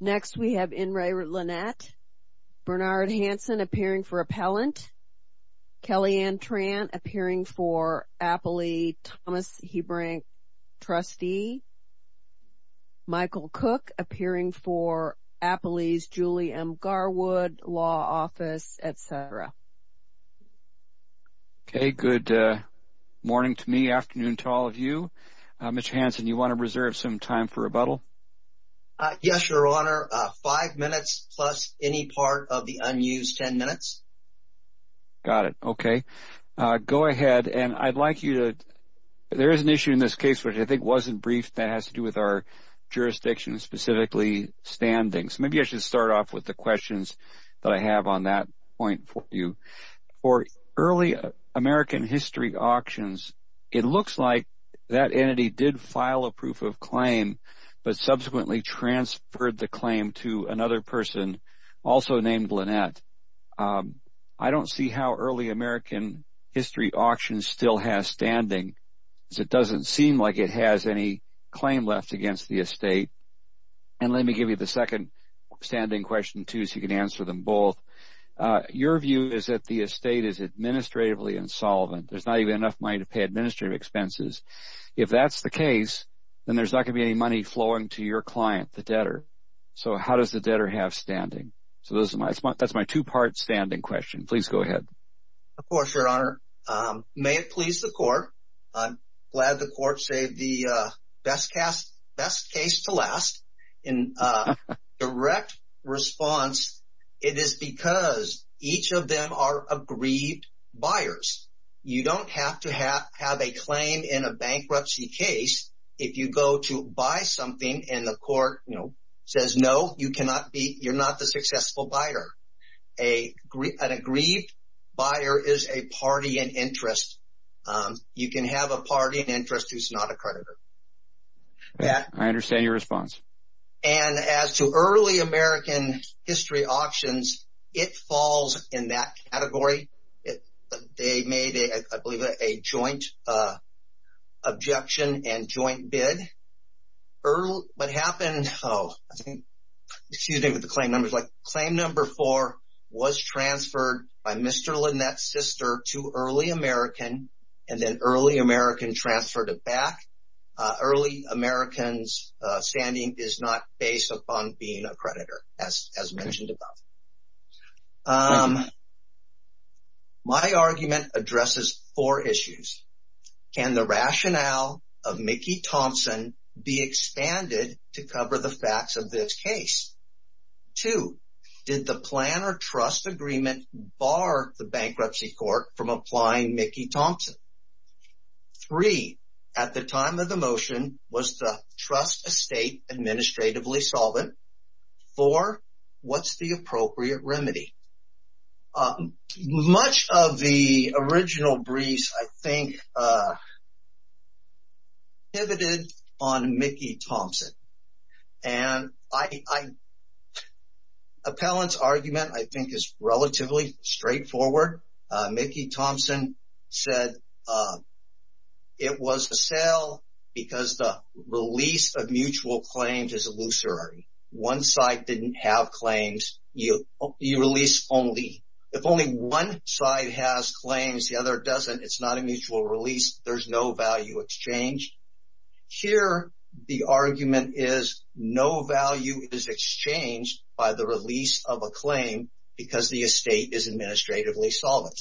Next, we have N. Ray Linett, Bernard Hanson appearing for Appellant, Kellyanne Trant appearing for Appley, Thomas Hebrink, Trustee, Michael Cook appearing for Appley's Julie M. Garwood Law Office, etc. Okay, good morning to me, afternoon to all of you. Mr. Hanson, do you want to reserve some time for rebuttal? Yes, Your Honor, five minutes plus any part of the unused ten minutes. Got it, okay. Go ahead, and I'd like you to, there is an issue in this case which I think wasn't brief that has to do with our jurisdiction, specifically standings. Maybe I should start off with the questions that I have on that point for you. For early American history auctions, it looks like that entity did file a proof of claim but subsequently transferred the claim to another person, also named Linett. I don't see how early American history auctions still has standing, because it doesn't seem like it has any claim left against the estate. And let me give you the second standing question, too, so you can answer them both. Your view is that the estate is administratively insolvent. There's not even enough money to pay administrative expenses. If that's the case, then there's not going to be any money flowing to your client, the debtor. So how does the debtor have standing? So that's my two-part standing question. Please go ahead. Of course, Your Honor. May it please the Court. I'm glad the Court saved the best case to last. In direct response, it is because each of them are aggrieved buyers. You don't have to have a claim in a bankruptcy case if you go to buy something and the Court says, no, you're not the successful buyer. An aggrieved buyer is a party in interest. You can have a party in interest who's not a creditor. I understand your response. And as to early American history auctions, it falls in that category. They made, I believe, a joint objection and joint bid. What happened, oh, excuse me with the claim numbers. Claim number four was transferred by Mr. Lynette's sister to early American, and then early American transferred it back. Early American's standing is not based upon being a creditor, as mentioned above. My argument addresses four issues. Can the rationale of Mickey Thompson be expanded to cover the facts of this case? Two, did the plan or trust agreement bar the bankruptcy court from applying Mickey Thompson? Three, at the time of the motion, was the trust estate administratively solvent? Four, what's the appropriate remedy? Much of the original breeze, I think, pivoted on Mickey Thompson. And appellant's argument, I think, is relatively straightforward. Mickey Thompson said it was a sale because the release of mutual claims is illusory. One side didn't have claims. You release only. If only one side has claims, the other doesn't, it's not a mutual release. There's no value exchange. Here, the argument is no value is exchanged by the release of a claim because the estate is administratively solvent.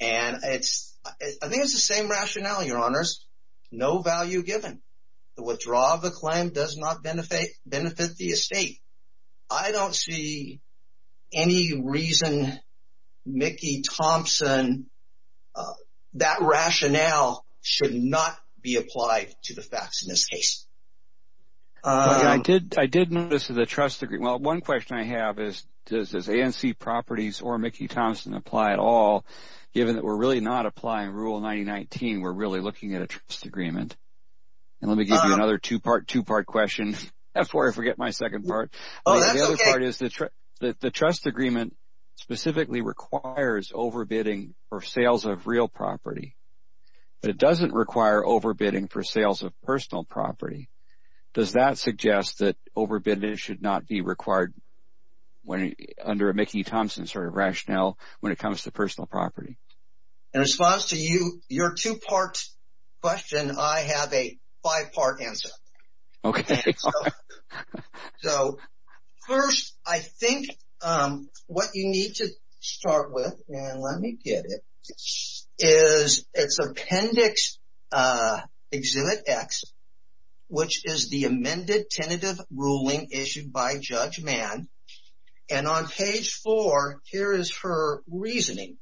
And I think it's the same rationale, your honors. No value given. The withdrawal of a claim does not benefit the estate. I don't see any reason Mickey Thompson, that rationale should not be applied to the facts in this case. I did notice the trust agreement. Well, one question I have is, does this ANC properties or Mickey Thompson apply at all, given that we're really not applying Rule 9019, we're really looking at a trust agreement? And let me give you another two-part, two-part question. That's where I forget my second part. The other part is that the trust agreement specifically requires overbidding for sales of real property, but it doesn't require overbidding for sales of personal property. Does that suggest that overbidding should not be required under a Mickey Thompson sort of rationale when it comes to personal property? In response to your two-part question, I have a five-part answer. Okay. So, first, I think what you need to start with, and let me get it, is it's Appendix Exhibit X, which is the amended tentative ruling issued by Judge Mann. And on page four, here is her reasoning.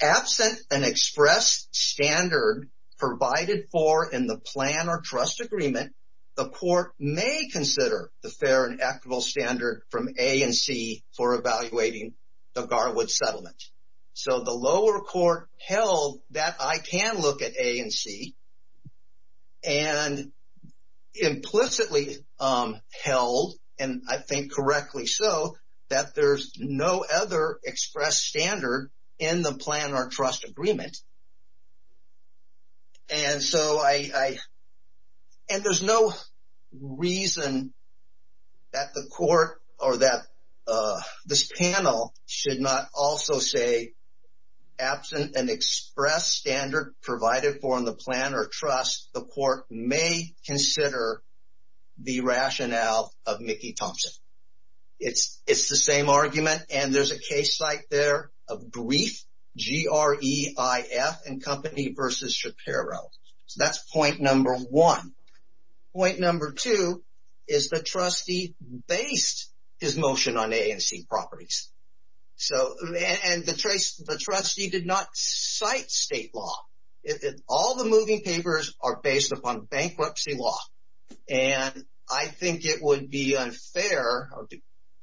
Absent an express standard provided for in the plan or trust agreement, the court may consider the fair and equitable standard from ANC for evaluating the Garwood settlement. So, the lower court held that I can look at ANC and implicitly held, and I think correctly so, that there's no other express standard in the plan or trust agreement. And so, I, and there's no reason that the court or that this panel should not also say, absent an express standard provided for in the plan or trust, the court may consider the rationale of Mickey Thompson. It's the same argument, and there's a case site there of brief, G-R-E-I-F and Company versus Shapiro. So, that's point number one. Point number two is the trustee based his motion on ANC properties. So, and the trustee did not cite state law. All the moving papers are based upon bankruptcy law. And I think it would be unfair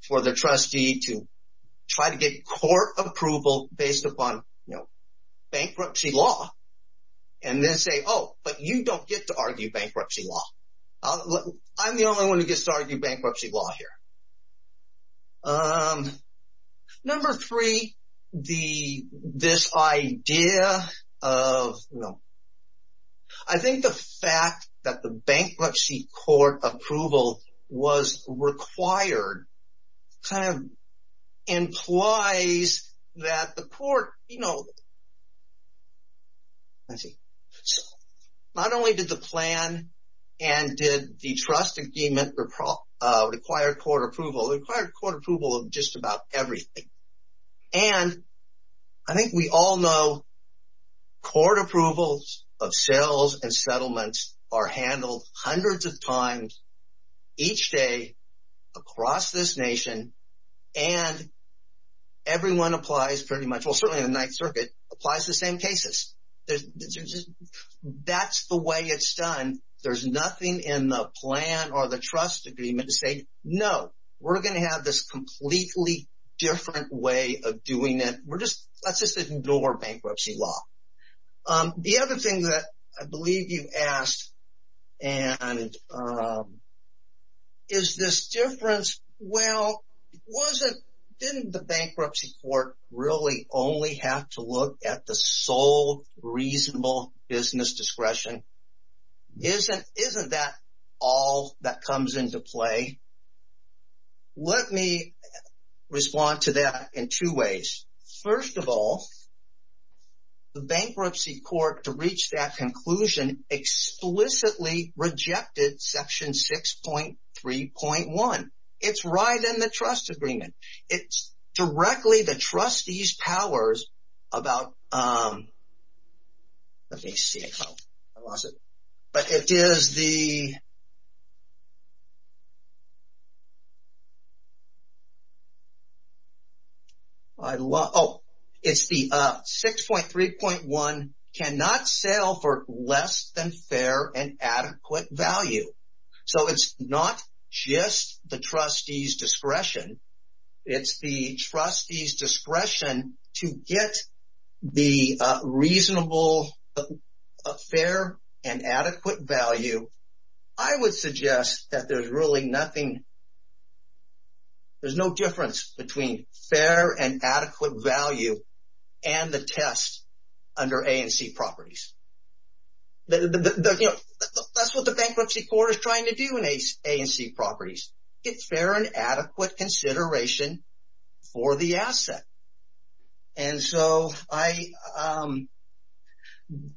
for the trustee to try to get court approval based upon bankruptcy law. And then say, oh, but you don't get to argue bankruptcy law. I'm the only one who gets to argue bankruptcy law here. Number three, the, this idea of, no. I think the fact that the bankruptcy court approval was required kind of implies that the court, you know, I see, not only did the plan and did the trust agreement require court approval, it required court approval of just about everything. And I think we all know court approvals of sales and settlements are handled hundreds of times each day across this nation. And everyone applies pretty much, well, certainly the Ninth Circuit applies the same cases. That's the way it's done. There's nothing in the plan or the trust agreement to say, no, we're going to have this completely different way of doing it. We're just, let's just ignore bankruptcy law. The other thing that I believe you asked, and is this difference? Well, it wasn't, didn't the bankruptcy court really only have to look at the sole reasonable business discretion? Isn't that all that comes into play? Let me respond to that in two ways. First of all, the bankruptcy court to reach that conclusion explicitly rejected section 6.3.1. It's right in the trust agreement. It's directly the trustees powers about, let me see, I lost it. But it is the, I lost, oh, it's the 6.3.1 cannot sell for less than fair and adequate value. So it's not just the trustees discretion. It's the trustees discretion to get the reasonable fair and adequate value. I would suggest that there's really nothing, there's no difference between fair and adequate value and the test under A and C properties. That's what the bankruptcy court is trying to do in A and C properties. It's fair and adequate consideration for the asset. And so I,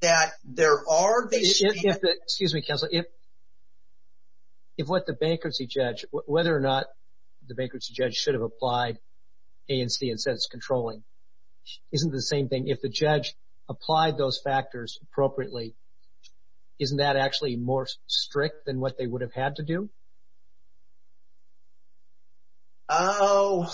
that there are, excuse me counsel, if what the bankruptcy judge, whether or not the bankruptcy judge should have applied A and C and says it's controlling, isn't the same thing if the judge applied those factors appropriately, isn't that actually more strict than what they would have had to do? Oh,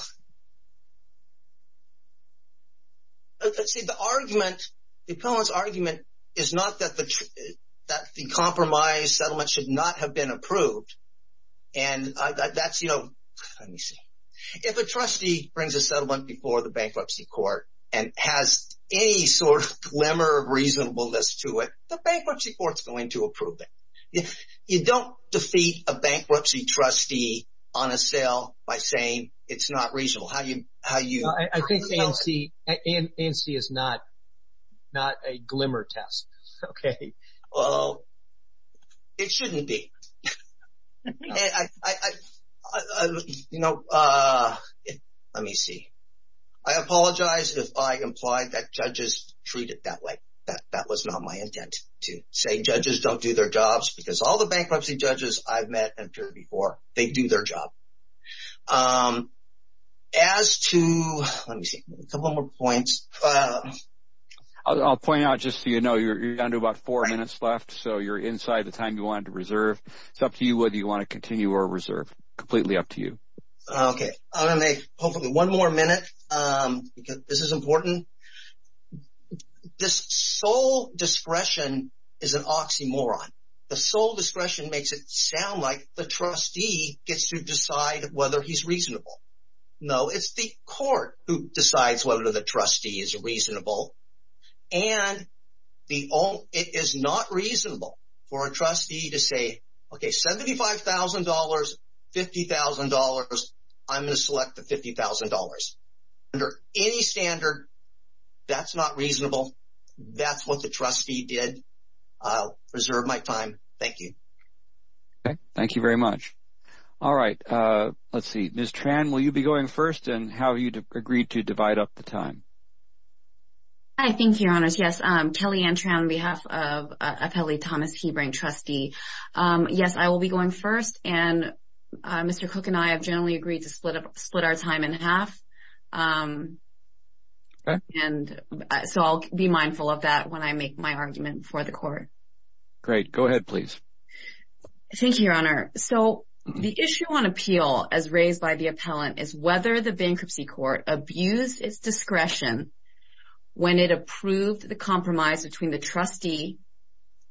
let's see, the argument, the appellant's argument is not that the compromise settlement should not have been approved. And that's, let me see, if a trustee brings a settlement before the bankruptcy court and has any sort of glimmer of reasonableness to it, the bankruptcy court's going to approve it. You don't defeat a bankruptcy trustee on a sale by saying it's not reasonable. How do you, how do you? Well, I think A and C, A and C is not, not a glimmer test. Okay, well, it shouldn't be. And I, you know, let me see. I apologize if I implied that judges treat it that way. That was not my intent to say judges don't do their jobs, because all the bankruptcy judges I've met and heard before, they do their job. As to, let me see, a couple more points. I'll point out just so you know, you're down to about four minutes left, so you're inside the time you wanted to reserve. It's up to you whether you want to continue or reserve, completely up to you. Okay, I'm going to make hopefully one more minute, because this is important. This sole discretion is an oxymoron. The sole discretion makes it sound like the trustee gets to decide whether he's reasonable. No, it's the court who decides whether the trustee is reasonable. And the, it is not reasonable for a trustee to say, okay, $75,000, $50,000, under any standard, that's not reasonable. That's what the trustee did. I'll reserve my time. Thank you. Okay, thank you very much. All right, let's see. Ms. Tran, will you be going first, and how you agreed to divide up the time? I think, your honors, yes. Kellyanne Tran on behalf of Appellee Thomas Hebring, trustee. Yes, I will be going first. And Mr. Cook and I have generally agreed to split up, split our time in half. Okay. And so, I'll be mindful of that when I make my argument before the court. Great. Go ahead, please. Thank you, your honor. So, the issue on appeal, as raised by the appellant, is whether the bankruptcy court abused its discretion when it approved the compromise between the trustee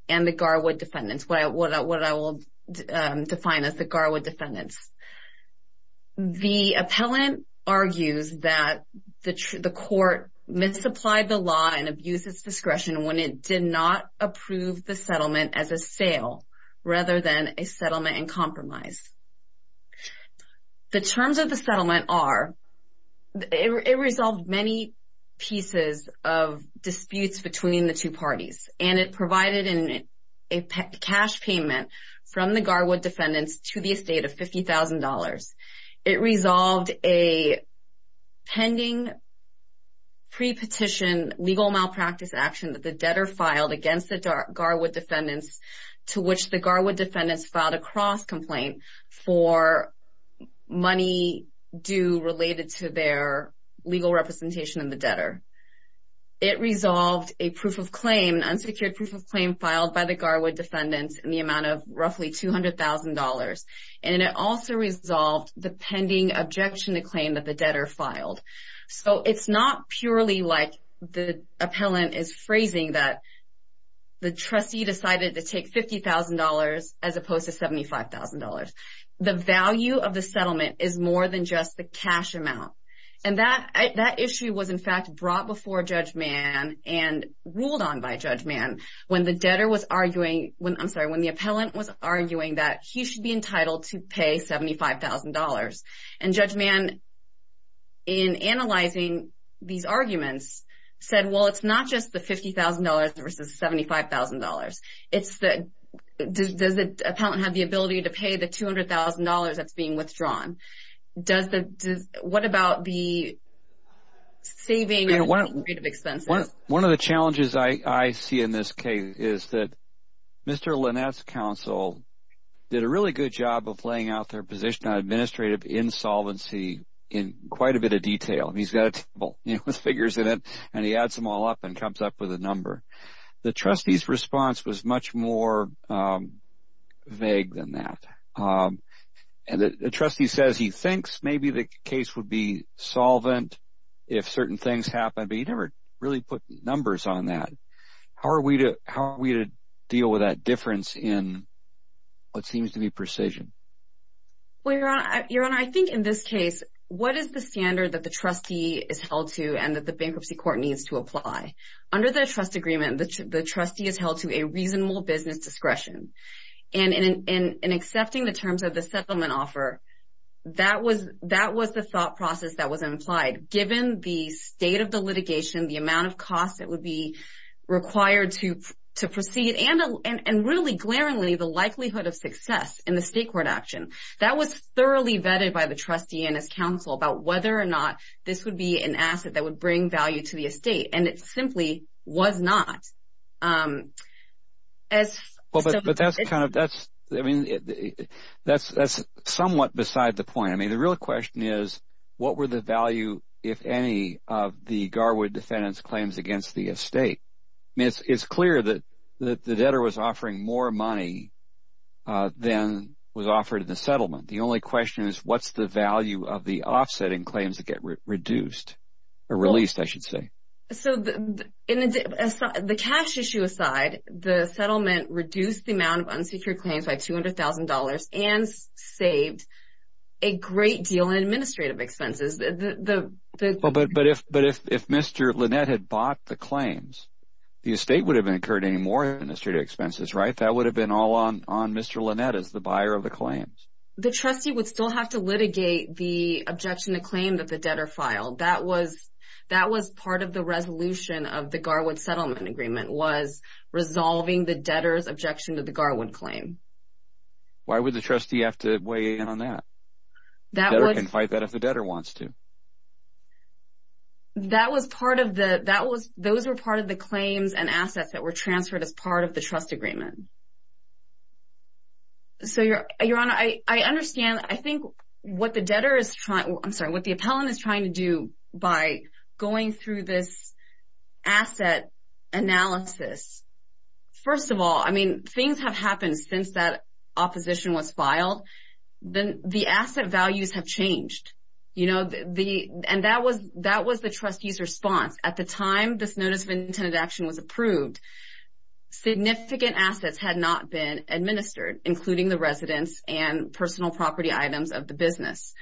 and the Garwood defendants, what I will define as the Garwood defendants. The appellant argues that the court misapplied the law and abused its discretion when it did not approve the settlement as a sale, rather than a settlement and compromise. The terms of the settlement are, it resolved many pieces of disputes between the two parties. And it provided a cash payment from the Garwood defendants to the estate of $50,000. It resolved a pending pre-petition legal malpractice action that the debtor filed against the Garwood defendants, to which the Garwood defendants filed a cross-complaint for money due related to their legal representation in the debtor. It resolved a proof of claim, an unsecured proof of claim filed by the Garwood defendants in the amount of roughly $200,000. And it also resolved the pending objection to claim that the debtor filed. So, it's not purely like the appellant is phrasing that the trustee decided to take $50,000 as opposed to $75,000. The value of the settlement is more than just the cash amount. And that issue was, in fact, brought before Judge Mann and ruled on by Judge Mann when the debtor was arguing, I'm sorry, when the appellant was arguing that he should be entitled to pay $75,000. And Judge Mann, in analyzing these arguments, said, well, it's not just the $50,000 versus $75,000. It's the, does the appellant have the ability to pay the $200,000 that's being withdrawn? Does the, what about the saving of administrative expenses? And one of the challenges I see in this case is that Mr. Linnat's counsel did a really good job of laying out their position on administrative insolvency in quite a bit of detail. And he's got a table, you know, with figures in it. And he adds them all up and comes up with a number. The trustee's response was much more vague than that. And the trustee says he thinks maybe the case would be solvent if certain things happened, but he never really put numbers on that. How are we to deal with that difference in what seems to be precision? Well, Your Honor, I think in this case, what is the standard that the trustee is held to and that the bankruptcy court needs to apply? Under the trust agreement, the trustee is held to a reasonable business discretion. And in accepting the terms of the settlement offer, that was the thought process that was implied. Given the state of the litigation, the amount of costs that would be required to proceed, and really glaringly the likelihood of success in the state court action, that was thoroughly vetted by the trustee and his counsel about whether or not this would be an asset that would bring value to the estate. And it simply was not. Well, but that's kind of, that's, I mean, that's somewhat beside the point. I mean, the real question is, what were the value, if any, of the Garwood defendant's claims against the estate? It's clear that the debtor was offering more money than was offered in the settlement. The only question is, what's the value of the offsetting claims that get reduced, or released, I should say? So, the cash issue aside, the settlement reduced the amount of unsecured claims by $200,000 and saved a great deal in administrative expenses. But if Mr. Lynette had bought the claims, the estate would have incurred any more administrative expenses, right? That would have been all on Mr. Lynette as the buyer of the claims. The trustee would still have to litigate the objection to claim that the debtor filed. That was part of the resolution of the Garwood settlement agreement, was resolving the debtor's objection to the Garwood claim. Why would the trustee have to weigh in on that? The debtor can fight that if the debtor wants to. That was part of the, that was, those were part of the claims and assets that were transferred as part of the trust agreement. So, Your Honor, I understand, I think what the debtor is trying, I'm sorry, what the by going through this asset analysis, first of all, I mean, things have happened since that opposition was filed. Then the asset values have changed, you know, the, and that was, that was the trustee's response. At the time this Notice of Intended Action was approved, significant assets had not been administered, including the residence and personal property items of the business.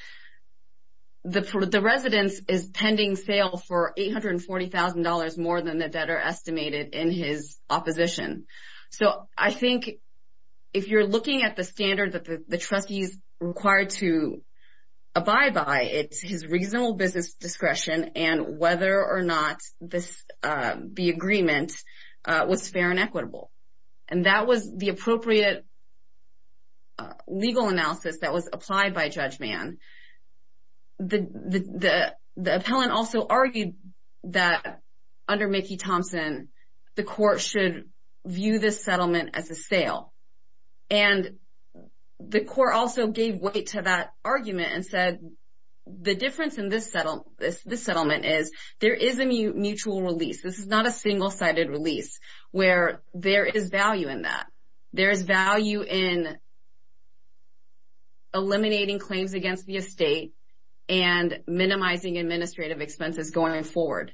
The residence is pending sale for $840,000 more than the debtor estimated in his opposition. So, I think if you're looking at the standard that the trustee is required to abide by, it's his reasonable business discretion and whether or not this, the agreement was fair and equitable. And that was the appropriate legal analysis that was applied by Judge Mann. The appellant also argued that under Mickey Thompson, the court should view this settlement as a sale. And the court also gave weight to that argument and said, the difference in this settlement is there is a mutual release. This is not a single-sided release where there is value in that. There is value in eliminating claims against the estate and minimizing administrative expenses going forward.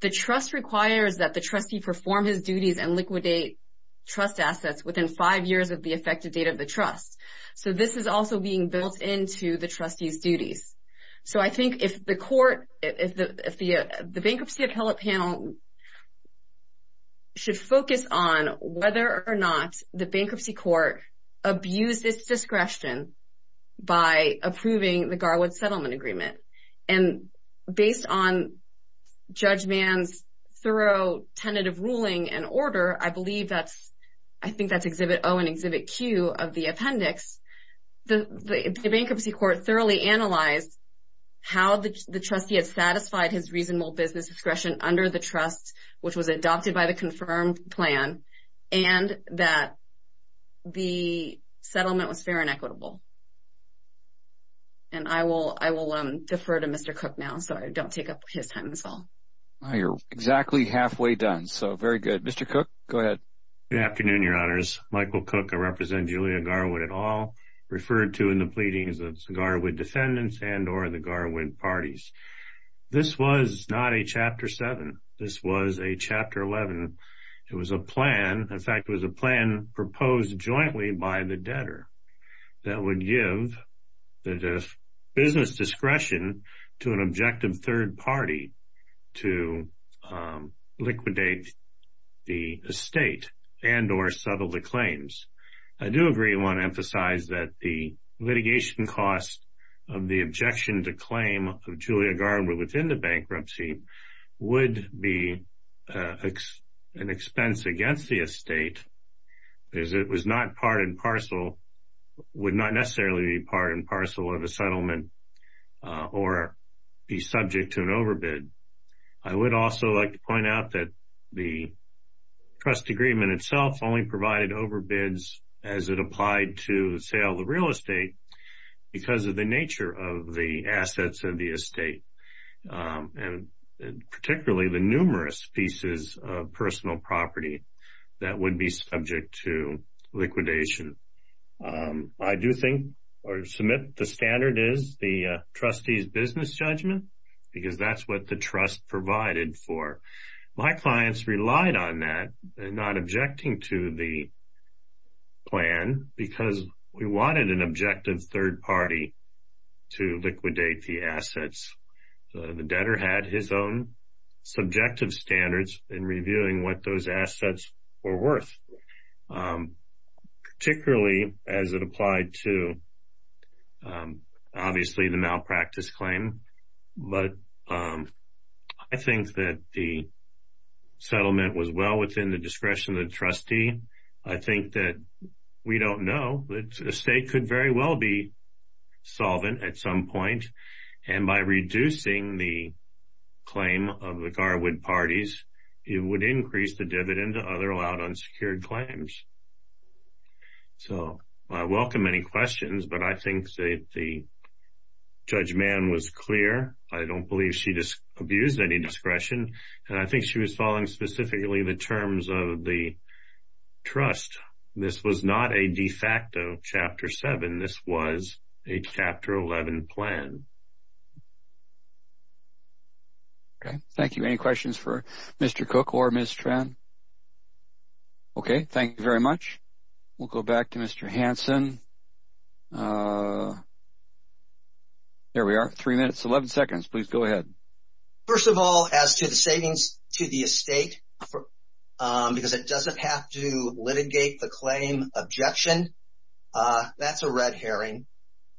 The trust requires that the trustee perform his duties and liquidate trust assets within five years of the effective date of the trust. So, I think if the court, if the bankruptcy appellate panel should focus on whether or not the bankruptcy court abused its discretion by approving the Garwood Settlement Agreement. And based on Judge Mann's thorough tentative ruling and order, I believe that's, I think that's Exhibit O and Exhibit Q of the appendix. The bankruptcy court thoroughly analyzed how the trustee had satisfied his reasonable business discretion under the trust, which was adopted by the confirmed plan, and that the settlement was fair and equitable. And I will defer to Mr. Cook now, so I don't take up his time as well. MR. COOK. You're exactly halfway done, so very good. Mr. Cook, go ahead. MR. MICHAEL COOK. Good afternoon, Your Honors. Michael Cook. I represent Julia Garwood et al., referred to in the pleadings of the Garwood defendants and or the Garwood parties. This was not a Chapter 7. This was a Chapter 11. It was a plan, in fact, it was a plan proposed jointly by the debtor that would give the business discretion to an objective third party to liquidate the estate and or settle the claims. I do agree and want to emphasize that the litigation cost of the objection to claim of Julia Garwood within the bankruptcy would be an expense against the estate as it was not part and parcel, would not necessarily be part and parcel of a settlement or be subject to an overbid. I would also like to point out that the trust agreement itself only provided overbids as it applied to sale of the real estate because of the nature of the assets of the estate and particularly the numerous pieces of personal property that would be subject to liquidation. I do think or submit the standard is the trustee's business judgment because that's what the trust provided for. My clients relied on that, not objecting to the plan because we wanted an objective third party to liquidate the assets. The debtor had his own subjective standards in reviewing what those assets were worth, particularly as it applied to obviously the malpractice claim. But I think that the settlement was well within the discretion of the trustee. I think that we don't know, but the estate could very well be solvent at some point and by reducing the claim of the Garwood parties, it would increase the dividend to other allowed unsecured claims. So I welcome any questions, but I think that the judgment was clear. I don't believe she just abused any discretion and I think she was following specifically the terms of the trust. This was not a de facto Chapter 7. This was a Chapter 11 plan. Okay, thank you. Any questions for Mr. Cook or Ms. Tran? Okay, thank you very much. We'll go back to Mr. Hanson. There we are, three minutes, 11 seconds. Please go ahead. First of all, as to the savings to the estate, because it doesn't have to litigate the claim objection, that's a red herring.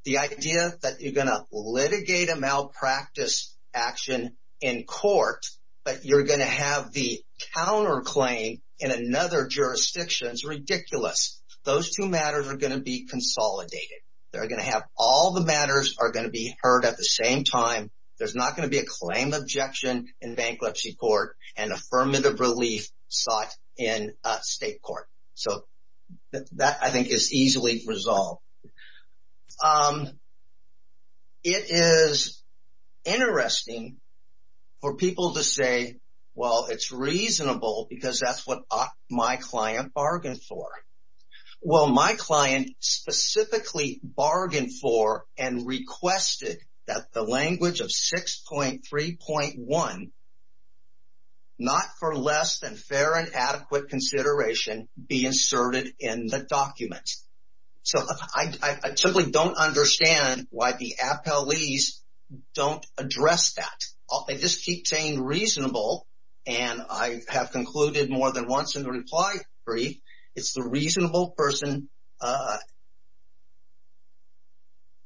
The idea that you're going to litigate a malpractice action in court, but you're going to have the counterclaim in another jurisdiction is ridiculous. Those two matters are going to be consolidated. They're going to have all the matters are going to be heard at the same time. There's not going to be a claim objection in bankruptcy court and affirmative relief sought in state court. So that, I think, is easily resolved. Now, it is interesting for people to say, well, it's reasonable because that's what my client bargained for. Well, my client specifically bargained for and requested that the language of 6.3.1, not for less than fair and adequate consideration, be inserted in the documents. So I simply don't understand why the appellees don't address that. They just keep saying reasonable, and I have concluded more than once in the reply brief, it's the reasonable person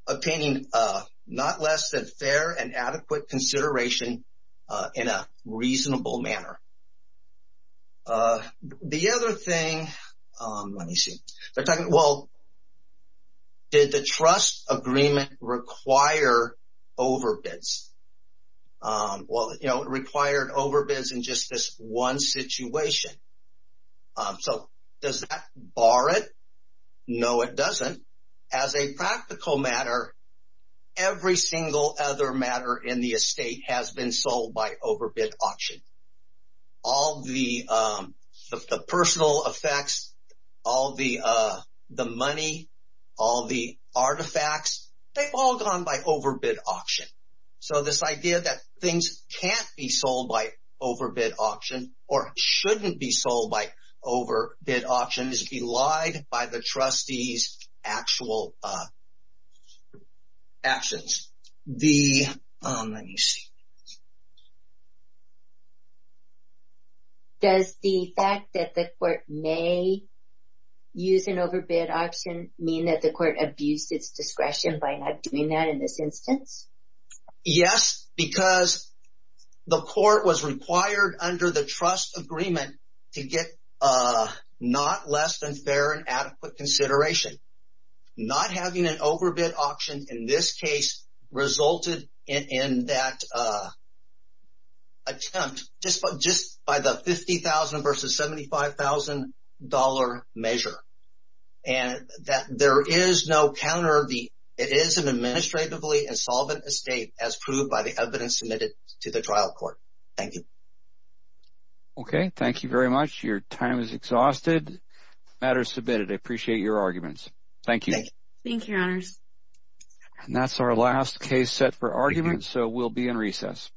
obtaining not less than fair and adequate consideration in a reasonable manner. The other thing, let me see, they're talking, well, did the trust agreement require overbids? Well, you know, it required overbids in just this one situation. So does that bar it? No, it doesn't. As a practical matter, every single other matter in the estate has been sold by overbid auction. All the personal effects, all the money, all the artifacts, they've all gone by overbid auction. So this idea that things can't be sold by overbid auction or shouldn't be sold by overbid auction is belied by the trustee's actual actions. The, let me see, does the fact that the court may use an overbid auction mean that the court abused its discretion by not doing that in this instance? Yes, because the court was required under the trust agreement to get a not less than fair and adequate consideration. Not having an overbid auction in this case resulted in that attempt just by the $50,000 versus $75,000 measure. And that there is no counter, it is an administratively insolvent estate as proved by the evidence submitted to the trial court. Thank you. Okay. Thank you very much. Your time is exhausted. The matter is submitted. I appreciate your arguments. Thank you. Thank you, your honors. And that's our last case set for argument. So we'll be in recess.